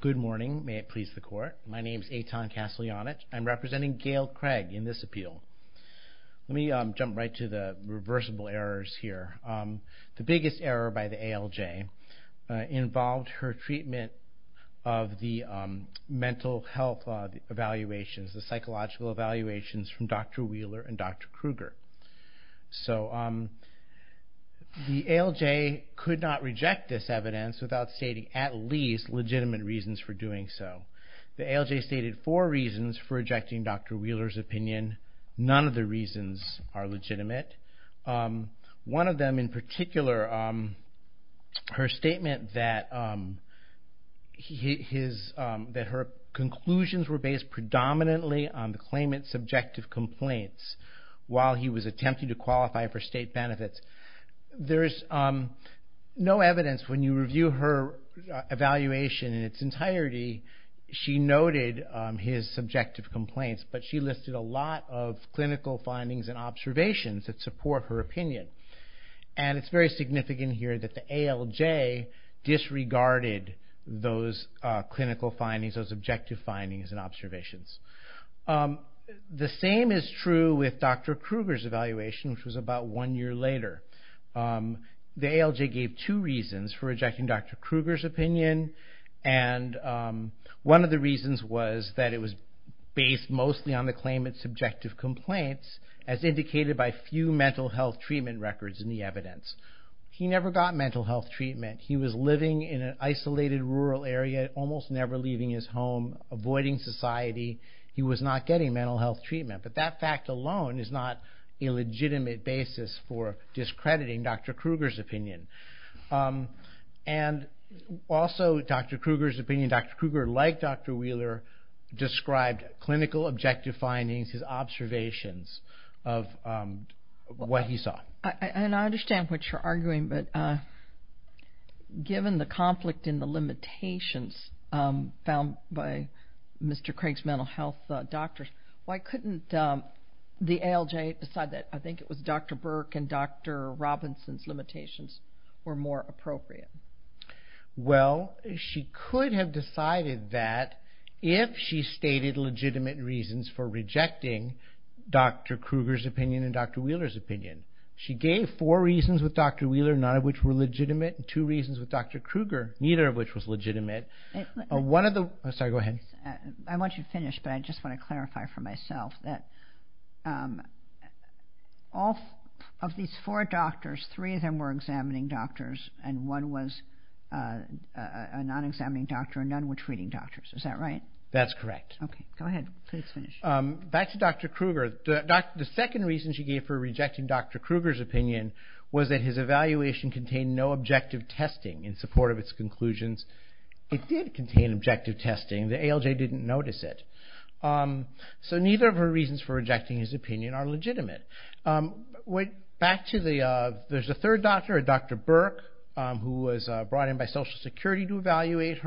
Good morning, may it please the court. My name is Eitan Kaslyanich. I'm representing Gail Craig in this appeal. Let me jump right to the reversible errors here. The biggest error by the ALJ involved her treatment of the mental health evaluations, the psychological evaluations from Dr. Wheeler and Dr. Kruger. So the ALJ could not reject this evidence without stating at least legitimate reasons for doing so. The ALJ stated four reasons for rejecting Dr. Wheeler's opinion. None of the reasons are legitimate. One of them in particular, her statement that her conclusions were based predominantly on the claimant's subjective complaints while he was attempting to qualify for state benefits. There's no doubt that when she reviewed her evaluation in its entirety, she noted his subjective complaints, but she listed a lot of clinical findings and observations that support her opinion. And it's very significant here that the ALJ disregarded those clinical findings, those objective findings and observations. The same is true with Dr. Kruger's evaluation which was about one year later. The ALJ gave two reasons for rejecting Dr. Kruger's opinion. One of the reasons was that it was based mostly on the claimant's subjective complaints as indicated by few mental health treatment records in the evidence. He never got mental health treatment. He was living in an isolated rural area, almost never leaving his home, avoiding society. He was not getting mental health treatment. But that fact alone is not a legitimate basis for discrediting Dr. Kruger's opinion. Also Dr. Kruger's opinion, Dr. Kruger, like Dr. Wheeler, described clinical objective findings, his observations of what he saw. I understand what you're arguing, but given the conflict and the limitations found by Mr. Craig's mental health doctors, why couldn't the ALJ decide that I think it was Dr. Burke and Dr. Robinson's limitations were more appropriate? Well, she could have decided that if she stated legitimate reasons for rejecting Dr. Kruger's opinion and Dr. Wheeler's opinion. She gave four reasons with Dr. Wheeler, none of which were legitimate, and two reasons with Dr. Kruger, neither of which was legitimate. One I want you to finish, but I just want to clarify for myself that of these four doctors, three of them were examining doctors, and one was a non-examining doctor, and none were treating doctors. Is that right? That's correct. Okay, go ahead. Please finish. Back to Dr. Kruger, the second reason she gave for rejecting Dr. Kruger's opinion was that his evaluation contained no objective testing in support of its conclusions. It did contain objective testing. The ALJ didn't notice it. So neither of her reasons for rejecting his opinion are legitimate. Back to the third doctor, Dr. Burke, who was brought in by Social Security to evaluate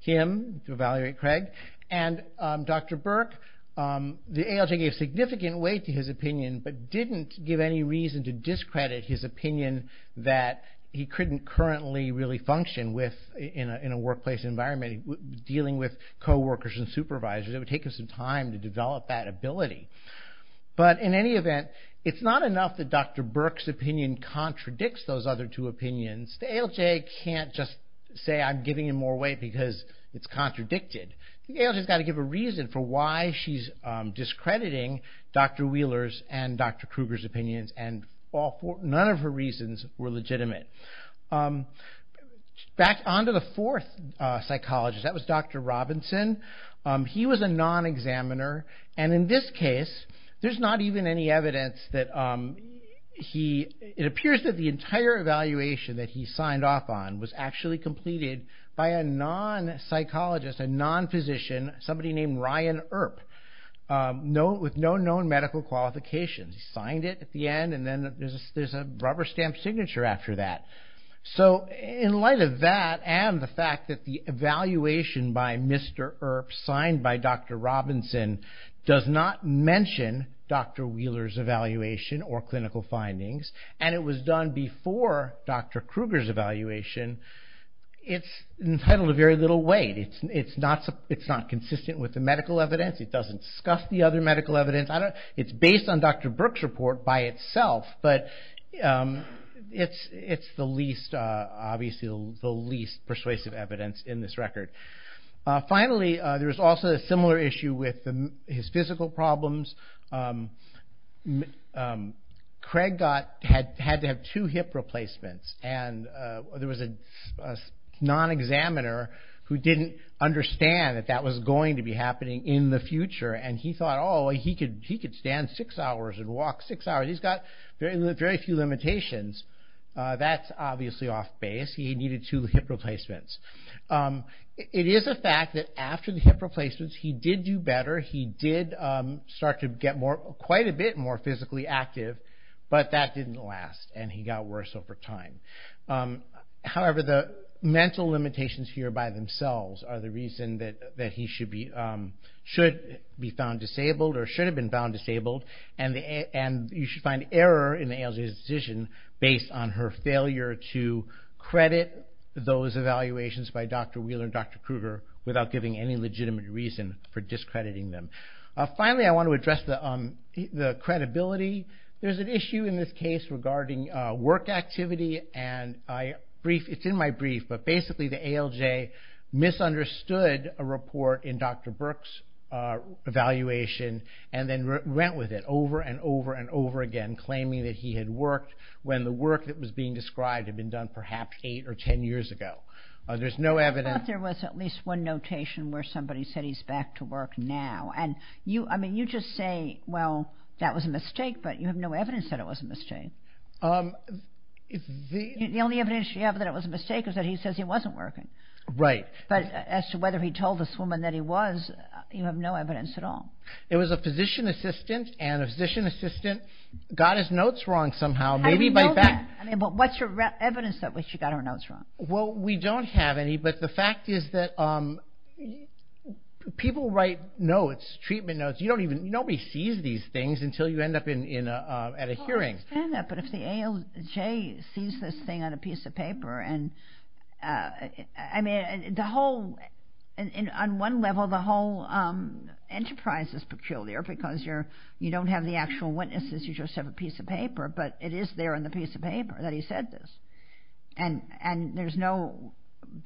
him, to evaluate Craig, and Dr. Burke, the ALJ gave significant weight to his opinion, but didn't give any reason to discredit his opinion that he couldn't currently really function in a workplace environment dealing with co-workers and supervisors. It would take him some time to develop that ability. But in any event, it's not enough that Dr. Burke's opinion contradicts those other two opinions. The ALJ can't just say I'm giving him more weight because it's contradicted. The ALJ's got to give a reason for why she's discrediting Dr. Wheeler's and Dr. Kruger's opinions, and none of her reasons were legitimate. Back on to the fourth psychologist, that was Dr. Robinson. He was a non-examiner, and in this case, there's not even any evidence that he, it appears that the entire evaluation that he signed off on was actually completed by a non-psychologist, a non-physician, somebody named Ryan Earp, with no known medical qualifications. He signed it at the end, and then there's a rubber stamp signature after that. So in light of that and the fact that the evaluation by Mr. Earp signed by Dr. Robinson does not mention Dr. Wheeler's evaluation or clinical findings, and it was done before Dr. Kruger's evaluation, it's entitled to very little weight. It's not consistent with the medical evidence. It doesn't discuss the other medical evidence. It's based on Dr. Brooks' report by itself, but it's the least, obviously the least persuasive evidence in this record. Finally, there was also a similar issue with his physical problems. Craig had to have two hip replacements, and there was a non-examiner who didn't understand that that was going to be happening in the future, and he thought, oh, he could stand six hours and walk six hours. He's got very few limitations. That's obviously off base. He needed two hip replacements. It is a fact that after the hip replacements, he did do better. He did start to get quite a bit more physically active, but that didn't last, and he got worse over time. However, the mental limitations here by themselves are the reason that he should be found disabled or should have been found disabled, and you should find error in the ALJ's decision based on her failure to credit those evaluations by Dr. Wheeler and Dr. Kruger without giving any legitimate reason for discrediting them. Finally, I want to address the credibility. There's an issue in this case regarding work activity, and it's in my brief, but basically the ALJ misunderstood a report in Dr. Burke's evaluation and then went with it over and over and over again, claiming that he had worked when the work that was being described had been done perhaps eight or ten years ago. There's no evidence. I thought there was at least one notation where somebody said he's back to work now, and you just say, well, that was a mistake, but you have no evidence that it was a mistake. The only evidence you have that it was a mistake is that he says he wasn't working, but as to whether he told this woman that he was, you have no evidence at all. It was a physician assistant, and a physician assistant got his notes wrong somehow, maybe by fact. I know that, but what's your evidence that she got her notes wrong? Well, we don't have any, but the fact is that people write notes, treatment notes. Nobody sees these things until you end up at a hearing. I understand that, but if the ALJ sees this thing on a piece of paper, and I mean, on one level, the whole enterprise is peculiar because you don't have the actual witnesses, you just have a piece of paper, but it is there in the piece of paper that he said this, and there's no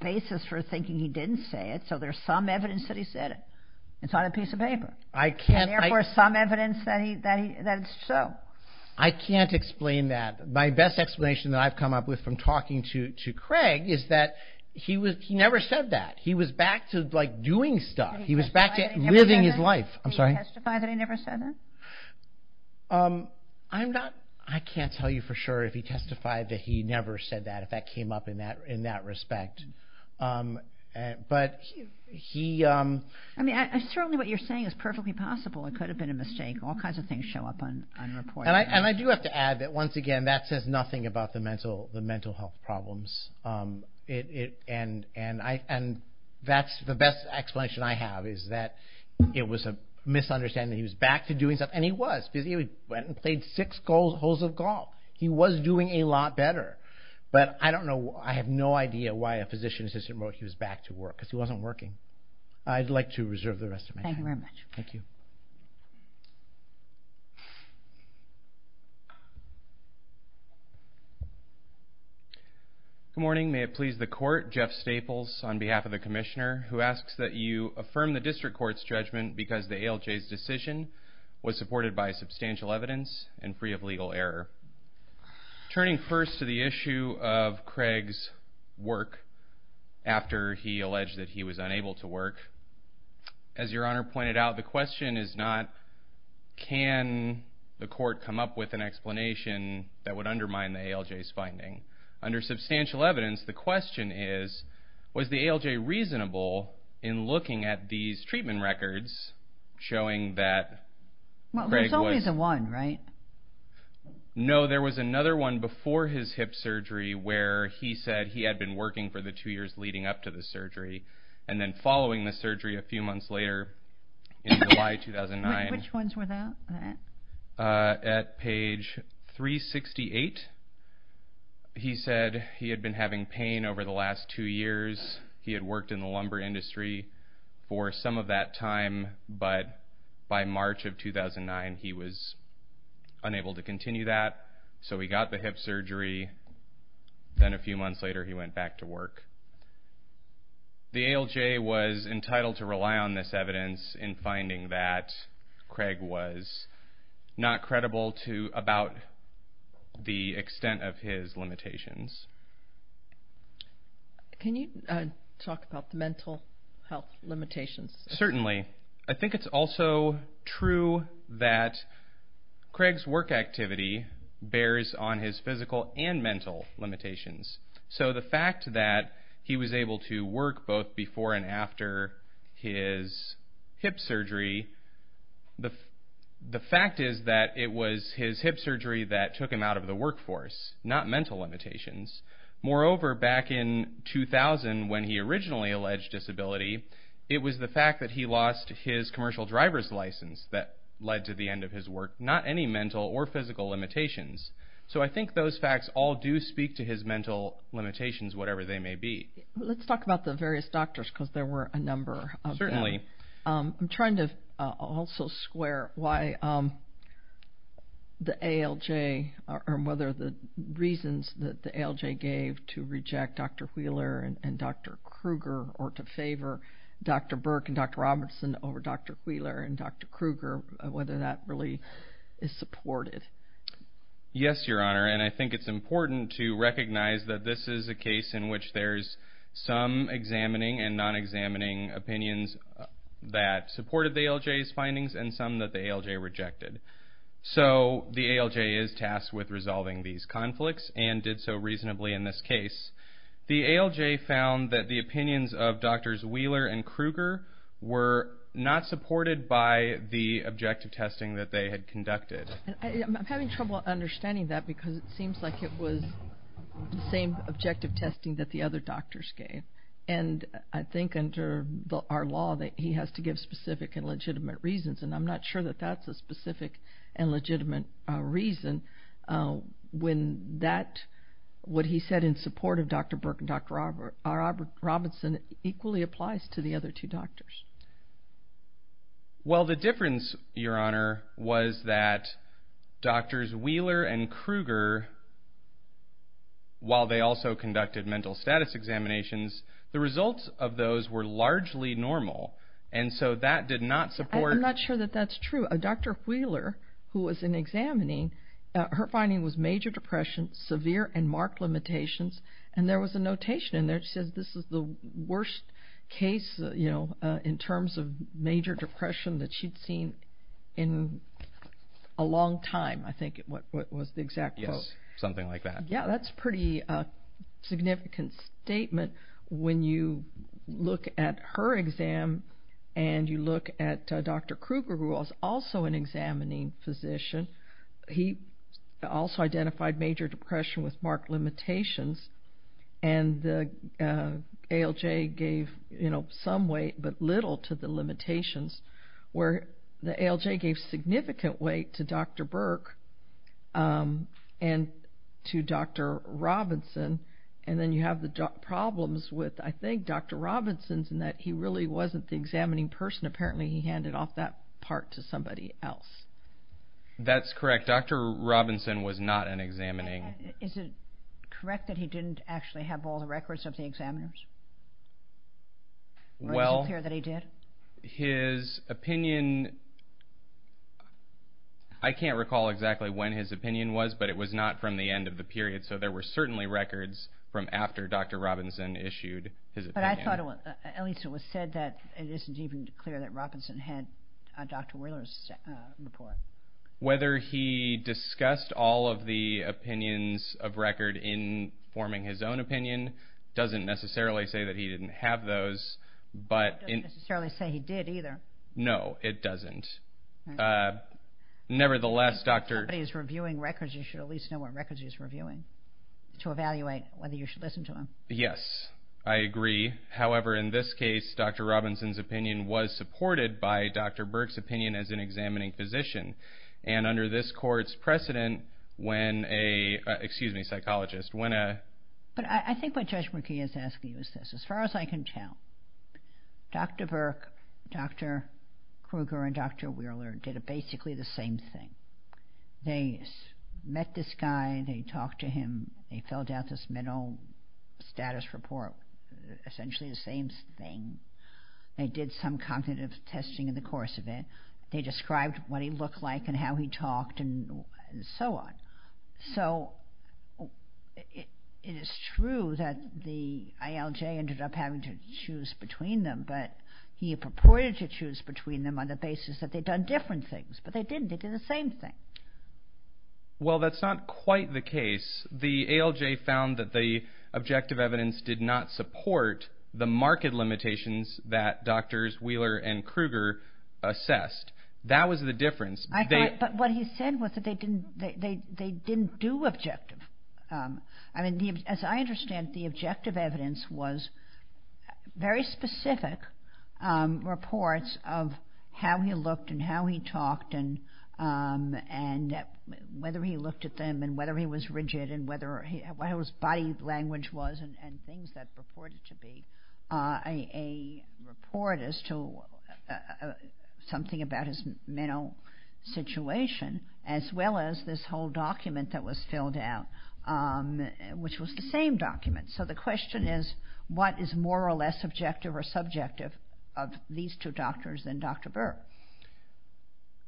basis for thinking he didn't say it, so there's some evidence that he said it. It's on a piece of paper, and therefore some evidence that it's so. I can't explain that. My best explanation that I've come up with from talking to Craig is that he never said that. He was back to doing stuff. He was back to living his life. Can you testify that he never said that? I'm not, I can't tell you for sure if he testified that he never said that, if that came up in that respect, but he... I mean, certainly what you're saying is perfectly possible. It could have been a mistake. All And I do have to add that, once again, that says nothing about the mental health problems, and that's the best explanation I have, is that it was a misunderstanding. He was back to doing stuff, and he was, because he went and played six holes of golf. He was doing a lot better, but I don't know, I have no idea why a physician's assistant wrote he was back to work, because he wasn't working. I'd like to reserve the rest of my time. Thank you very much. Good morning. May it please the Court, Jeff Staples on behalf of the Commissioner, who asks that you affirm the District Court's judgment because the ALJ's decision was supported by substantial evidence and free of legal error. Turning first to the issue of Craig's work after he alleged that he was unable to work, as your Honor pointed out, the question is not, can the Court come up with an explanation that would undermine the ALJ's finding. Under substantial evidence, the question is, was the ALJ reasonable in looking at these treatment records showing that Craig was... Well, there's only the one, right? No, there was another one before his hip surgery where he said he had been working for the two years leading up to the surgery, and then following the surgery a few months later in July 2009... Which ones were that? At page 368, he said he had been having pain over the last two years. He had worked in the lumber industry for some of that time, but by March of 2009, he was unable to continue that, so he got the hip surgery. Then a few months later, he went back to work. The ALJ was entitled to rely on this evidence in finding that Craig was not credible about the extent of his limitations. Can you talk about the mental health limitations? Certainly. I think it's also true that Craig's work activity bears on his physical and mental limitations. So the fact that he was able to work both before and after his hip surgery, the fact is that it was his hip surgery that took him out of the workforce, not mental limitations. Moreover, back in 2000, when he originally alleged disability, it was the fact that he lost his commercial driver's license that led to the end of his work, not any mental or physical limitations. So I think those facts all do speak to his mental limitations, whatever they may be. Let's talk about the various doctors, because there were a number of them. Certainly. I'm trying to also square why the ALJ, or whether the reasons that the ALJ gave to reject Dr. Wheeler and Dr. Krueger, or to favor Dr. Burke and Dr. Robertson over Dr. Wheeler and Dr. Krueger, whether that really is supported. Yes, Your Honor, and I think it's important to recognize that this is a case in which there's some examining and non-examining opinions that supported the ALJ's findings, and some that the ALJ rejected. So the ALJ is tasked with resolving these conflicts, and did so reasonably in this case. The ALJ found that the opinions of Drs. Wheeler and Krueger were not supported by the objective testing that they had conducted. I'm having trouble understanding that, because it seems like it was the same objective testing that the other doctors gave, and I think under our law that he has to give specific and legitimate reasons, and I'm not sure that that's a specific and legitimate reason when that, what he said in support of Dr. Burke and Dr. Robertson equally applies to the other two doctors. Well, the difference, Your Honor, was that Drs. Wheeler and Krueger, while they also conducted mental status examinations, the results of those were largely normal, and so that did not support... I'm not sure that that's true. Dr. Wheeler, who was in examining, her finding was major depression, severe and marked limitations, and there was a notation in there that says this is the worst case, you know, in terms of major depression that she'd seen in a long time, I think was the exact quote. Yes, something like that. Yeah, that's a pretty significant statement when you look at her exam and you look at Dr. Krueger, who was also an examining physician. He also identified major depression with marked limitations, and the ALJ gave, you know, some weight but little to the limitations, where the ALJ gave significant weight to Dr. Burke and to Dr. Robertson, and then you have the problems with, I think, Dr. Robertson's in that he really wasn't the examining person. Apparently, he handed off that part to somebody else. That's correct. Dr. Robertson was not an examining. Is it correct that he didn't actually have all the records of the examiners? Or is it clear that he did? His opinion, I can't recall exactly when his opinion was, but it was not from the end of the period, so there were certainly records from after Dr. Robertson issued his opinion. But I thought, at least it was said that it isn't even clear that Robertson had Dr. Wheeler's report. Whether he discussed all of the opinions of record in forming his own opinion doesn't necessarily say that he didn't have those, but... It doesn't necessarily say he did either. No, it doesn't. Nevertheless, Dr.... If somebody is reviewing records, you should at least know what records he's reviewing to evaluate whether you should listen to him. Yes, I agree. However, in this case, Dr. Robertson's opinion was supported by Dr. Burke's opinion as an examining physician, and under this court's precedent, when a, excuse me, psychologist, when a... But I think what Judge McKee is asking you is this, as far as I can tell, Dr. Burke, Dr. Kruger, and Dr. Wheeler did basically the same thing. They met this guy, they talked to him, they filled out this mental status report, essentially the same thing, they did some cognitive testing in the course of it, they described what he looked like and how he talked and so on. So, it is true that the ALJ ended up having to choose between them, but he purported to choose between them on the basis that they'd done different things, but they didn't, they did the same thing. Well that's not quite the case. The ALJ found that the objective evidence did not support the marked limitations that Drs. Wheeler and Kruger assessed. That was the difference. I thought, but what he said was that they didn't do objective. I mean, as I understand, the objective evidence was very specific reports of how he looked and how he talked and whether he looked at them and whether he was rigid and whether, what his body language was and things that purported to be a report as to something about his mental status.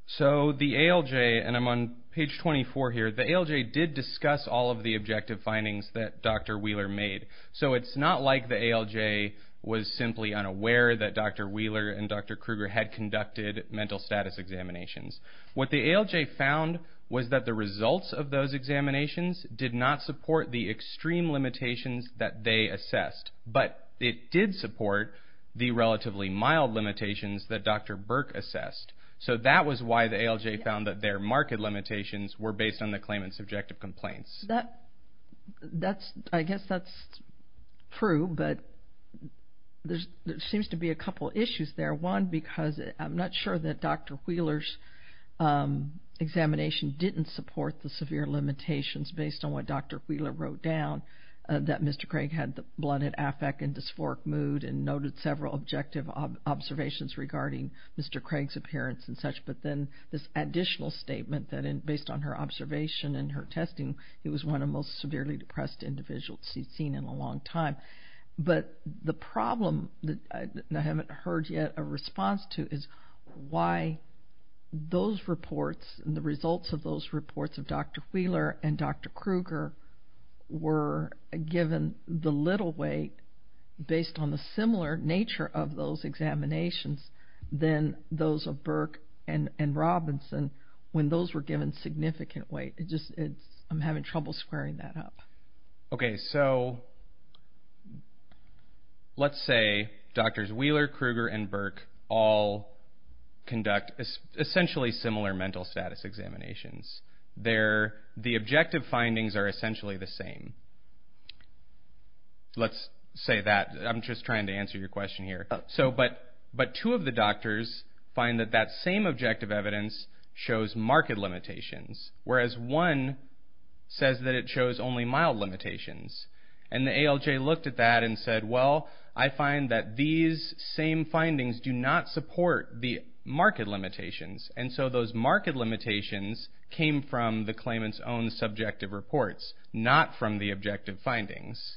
So, the ALJ, and I'm on page 24 here, the ALJ did discuss all of the objective findings that Dr. Wheeler made. So, it's not like the ALJ was simply unaware that Dr. Wheeler and Dr. Kruger had done objective. What the ALJ found was that the results of those examinations did not support the extreme limitations that they assessed, but it did support the relatively mild limitations that Dr. Burke assessed. So, that was why the ALJ found that their marked limitations were based on the claimant's objective complaints. I guess that's true, but there seems to be a couple issues there. One, because I'm not sure that Dr. Wheeler's examination didn't support the severe limitations based on what Dr. Wheeler wrote down, that Mr. Craig had the blunted affect and dysphoric mood and noted several objective observations regarding Mr. Craig's appearance and such, but then this additional statement that based on her observation and her testing, he was one of the most severely depressed individuals she'd seen in a long time. But, the problem that I haven't heard yet a response to is why those reports and the results of those reports of Dr. Wheeler and Dr. Kruger were given the little weight based on the similar nature of those examinations than those of Burke and Robinson when those were given significant weight. I'm having trouble squaring that up. Okay, so, let's say Drs. Wheeler, Kruger, and Burke all conduct essentially similar mental status examinations. The objective findings are essentially the same. Let's say that. I'm just trying to answer your question here. But, two of the doctors find that that And, the ALJ looked at that and said, well, I find that these same findings do not support the market limitations. And so, those market limitations came from the claimant's own subjective reports, not from the objective findings.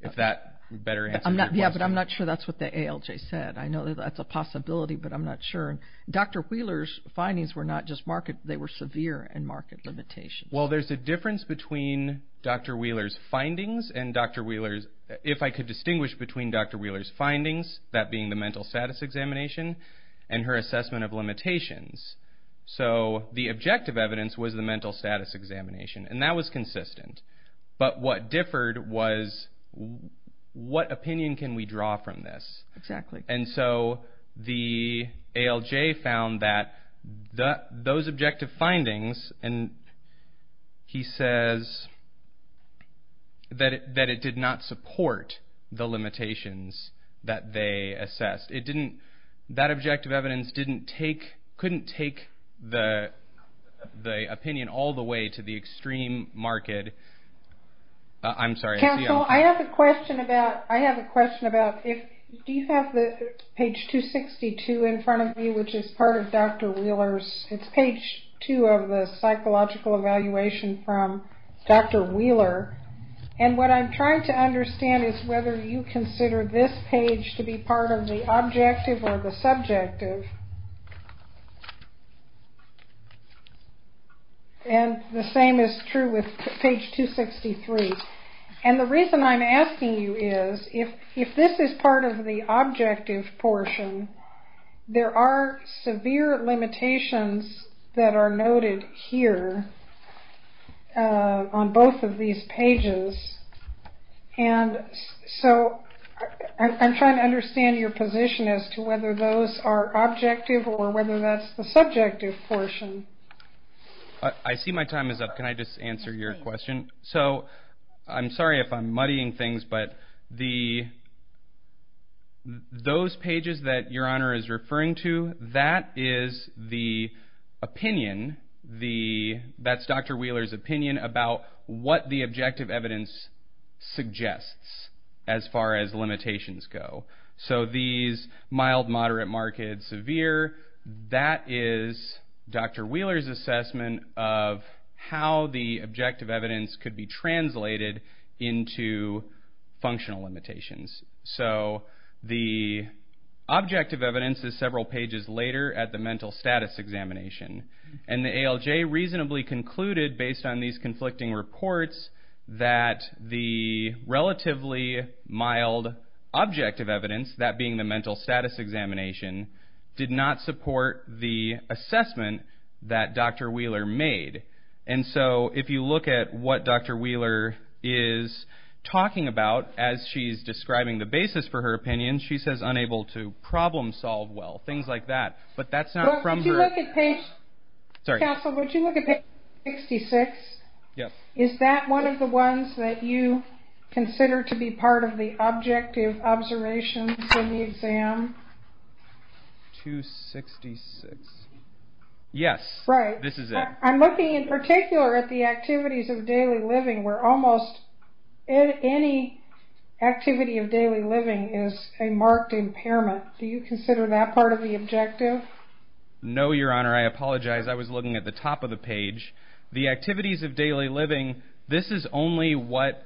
If that better answer your question. Yeah, but I'm not sure that's what the ALJ said. I know that's a possibility, but I'm not sure. Dr. Wheeler's findings were not just market. They were severe and market limitations. Well, there's a difference between Dr. Wheeler's findings and Dr. Wheeler's, if I could distinguish between Dr. Wheeler's findings, that being the mental status examination, and her assessment of limitations. So, the objective evidence was the mental status examination, and that was consistent. But, what differed was what opinion can we draw from this. And so, the ALJ found that those objective findings, and he says that it did not support the limitations that they assessed. It didn't, that objective evidence didn't take, couldn't take the opinion all the way to the extreme market. I'm sorry. Counsel, I have a question about, I have a question about if, do you have the page 262 in front of you, which is part of Dr. Wheeler's, it's page two of the psychological evaluation from Dr. Wheeler. And, what I'm trying to understand is whether you consider this page to be part of the objective or the subjective. And, the same is true with page 263. And, the reason I'm asking you is, if this is part of the objective portion, there are severe limitations that are noted here on both of these pages. And so, I'm trying to understand your position as to whether those are objective or whether that's the subjective portion. I see my time is up. Can I just answer your question? So, I'm sorry if I'm muddying things, but the, those pages that your honor is referring to, that is the opinion, the, that's Dr. Wheeler's opinion about what the objective evidence suggests as far as limitations go. So, these are Dr. Wheeler's assessment of how the objective evidence could be translated into functional limitations. So, the objective evidence is several pages later at the mental status examination. And, the ALJ reasonably concluded, based on these conflicting reports, that the relatively mild objective evidence, that being the mental status examination, did not support the assessment that Dr. Wheeler made. And so, if you look at what Dr. Wheeler is talking about as she's describing the basis for her opinion, she says, unable to problem solve well, things like that. But, that's not from her. Counsel, would you look at page 266? Is that one of the ones that you consider to be part of the objective observations in the exam? 266. Yes, this is it. Right. I'm looking in particular at the activities of daily living, where almost any activity of daily living is a marked impairment. Do you consider that part of the objective? No, your honor. I apologize. I was looking at the top of the page. The activities of daily living, this is only what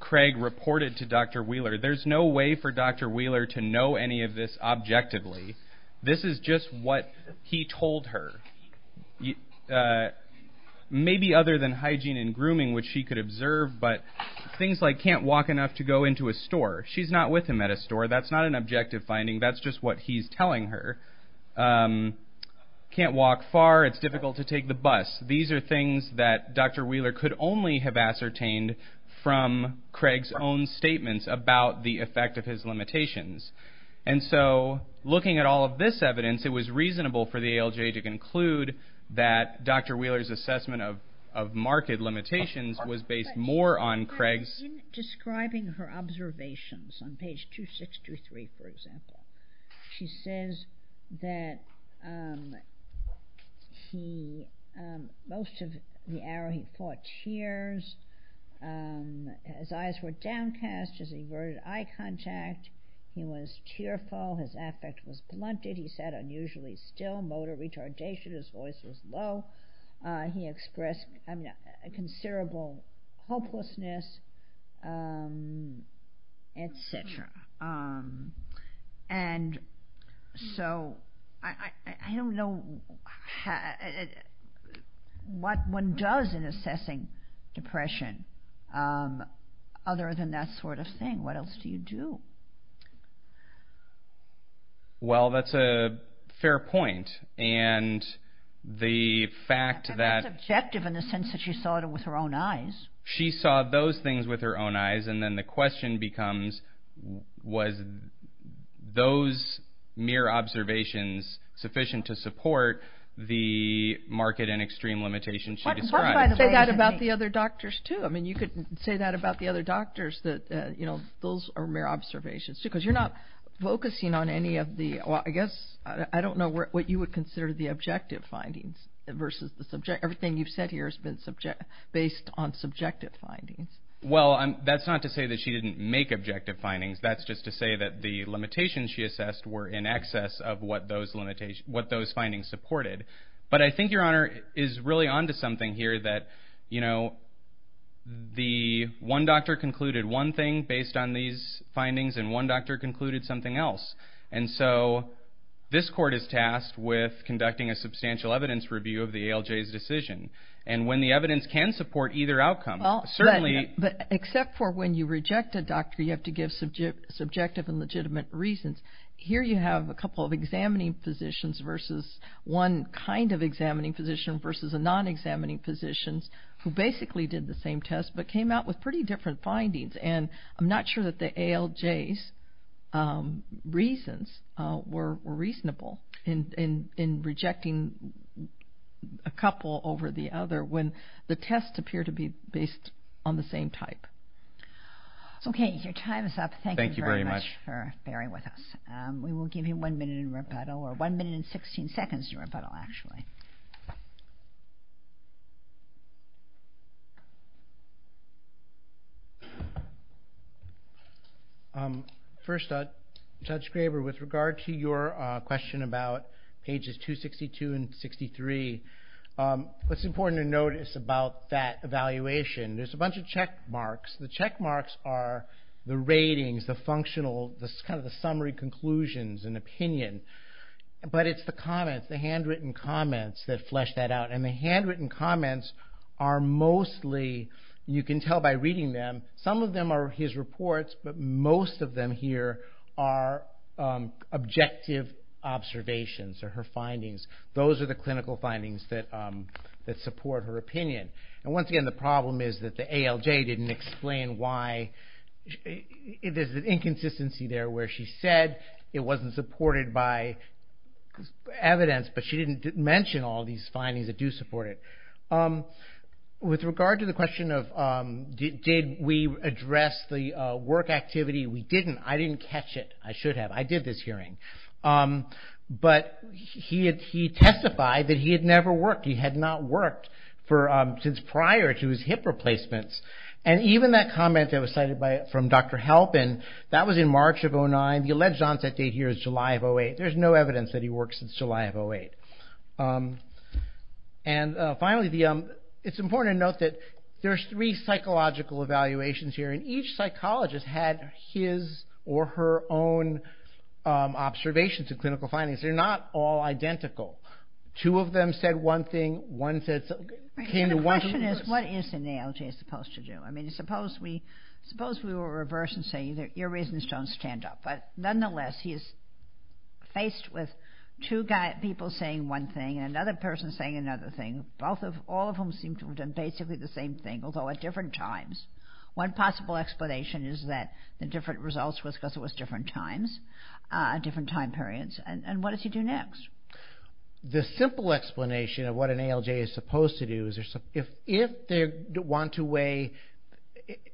Craig reported to Dr. Wheeler. There's no way for Dr. Wheeler to know any of this objectively. This is just what he told her. Maybe other than hygiene and grooming, which she could observe, but things like, can't walk enough to go into a store. She's not with him at a store. That's not an objective finding. That's just what he's telling her. Can't walk far. It's difficult to take the bus. These are things that Dr. Wheeler could only have ascertained from Craig's own statements about the effect of his limitations. Looking at all of this evidence, it was reasonable for the ALJ to conclude that Dr. Wheeler's assessment of marked limitations was based more on Craig's- In describing her observations on page 2623, for example, she says that most of the hour he fought tears. His eyes were downcast. His averted eye contact. He was tearful. His affect was blunted. He said, unusually still. Motor retardation. His voice was low. He expressed considerable hopelessness, et cetera. I don't know what one does in a situation like this assessing depression other than that sort of thing. What else do you do? That's a fair point. The fact that- That's objective in the sense that she saw it with her own eyes. She saw those things with her own eyes. Then the question becomes, was those mere observations sufficient to support the market and extreme limitations she described? Say that about the other doctors, too. You could say that about the other doctors. Those are mere observations, too, because you're not focusing on any of the- I don't know what you would consider the objective findings versus the subject- Everything you've said here has been based on subjective findings. That's not to say that she didn't make objective findings. That's just to say that the limitations she assessed were in excess of what those findings supported. I think your honor is really onto something here that the one doctor concluded one thing based on these findings and one doctor concluded something else. This court is tasked with conducting a substantial evidence review of the ALJ's decision. When the evidence can support either outcome, certainly- Here you have a couple of examining physicians versus one kind of examining physician versus a non-examining physician who basically did the same test but came out with pretty different findings. I'm not sure that the ALJ's reasons were reasonable in rejecting a couple over the other when the tests appear to be based on the same type. Okay, your time is up. Thank you very much for bearing with us. We will give you one minute in rebuttal or one minute and 16 seconds in rebuttal, actually. First, Judge Graber, with regard to your question about pages 262 and 63, what's important to you is the check marks. The check marks are the ratings, the functional, the summary conclusions and opinion, but it's the comments, the handwritten comments that flesh that out. The handwritten comments are mostly, you can tell by reading them, some of them are his reports but most of them here are objective observations or her findings. Those are the clinical findings that support her opinion. Once again, the problem is that the ALJ didn't explain why. There's an inconsistency there where she said it wasn't supported by evidence but she didn't mention all these findings that do support it. With regard to the question of did we address the work activity, we didn't. I didn't catch it. I should have. I did this hearing. He testified that he had never worked. He had not worked since prior to his hip replacements. Even that comment that was cited from Dr. Halpin, that was in March of 2009. The alleged onset date here is July of 2008. There's no evidence that he worked since July of 2008. Finally, it's important to note that there's three psychological evaluations here and each has its own observations and clinical findings. They're not all identical. Two of them said one thing, one said something. The question is what is an ALJ supposed to do? I mean, suppose we were reversing saying that your reasons don't stand up. Nonetheless, he is faced with two people saying one thing and another person saying another thing. All of them seem to have done basically the same thing, although at different times. One possible explanation is that the different results was because it was different times, different time periods. What does he do next? The simple explanation of what an ALJ is supposed to do is if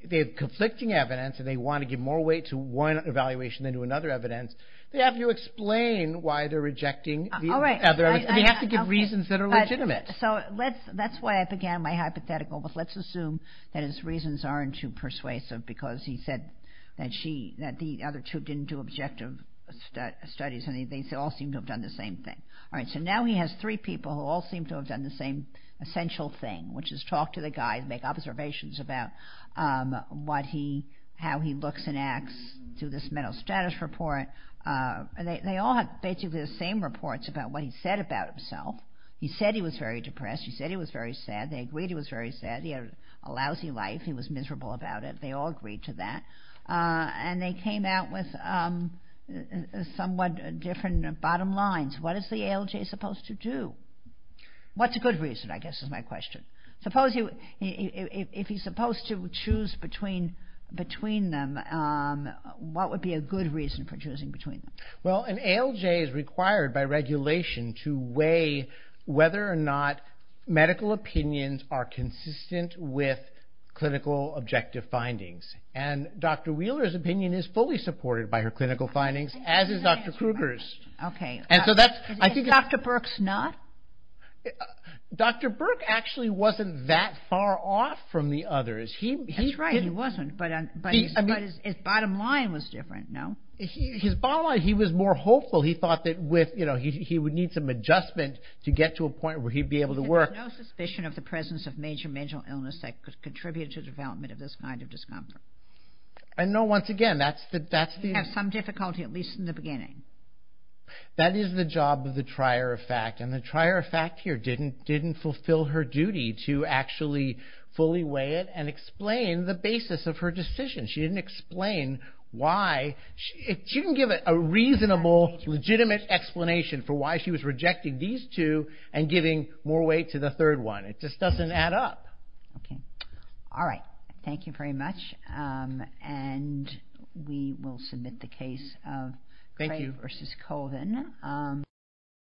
they have conflicting evidence and they want to give more weight to one evaluation than to another evidence, they have to explain why they're rejecting the other evidence. They have to give reasons that are legitimate. That's why I began my hypothetical with let's assume that his reasons aren't too persuasive because he said that the other two didn't do objective studies and they all seem to have done the same thing. All right, so now he has three people who all seem to have done the same essential thing, which is talk to the guy, make observations about how he looks and acts through this mental status report. They all have basically the same reports about what he said about himself. He said he was very depressed. He said he was very sad. They agreed he was very sad. He had a lousy life. He was miserable about it. They all agreed to that. They came out with somewhat different bottom lines. What is the ALJ supposed to do? What's a good reason, I guess, is my question. If he's supposed to choose between them, what would be a good reason for choosing between them? Well, an ALJ is required by regulation to weigh whether or not medical opinions are consistent with clinical objective findings. Dr. Wheeler's opinion is fully supported by her clinical findings, as is Dr. Kruger's. Okay. Is Dr. Burke's not? Dr. Burke actually wasn't that far off from the others. That's right, he wasn't, but his bottom line was different, no? His bottom line, he was more hopeful. He thought that he would need some adjustment to get to a point where he'd be able to work. There's no suspicion of the presence of major mental illness that could contribute to the development of this kind of discomfort. No, once again, that's the... He had some difficulty, at least in the beginning. That is the job of the trier of fact, and the trier of fact here didn't fulfill her duty to actually fully weigh it and explain the basis of her decision. She didn't explain why... She didn't give a reasonable, legitimate explanation for why she was rejecting these two and giving more weight to the third one. It just doesn't add up. Okay. All right. Thank you very much. We will submit the case of Craig versus Colvin.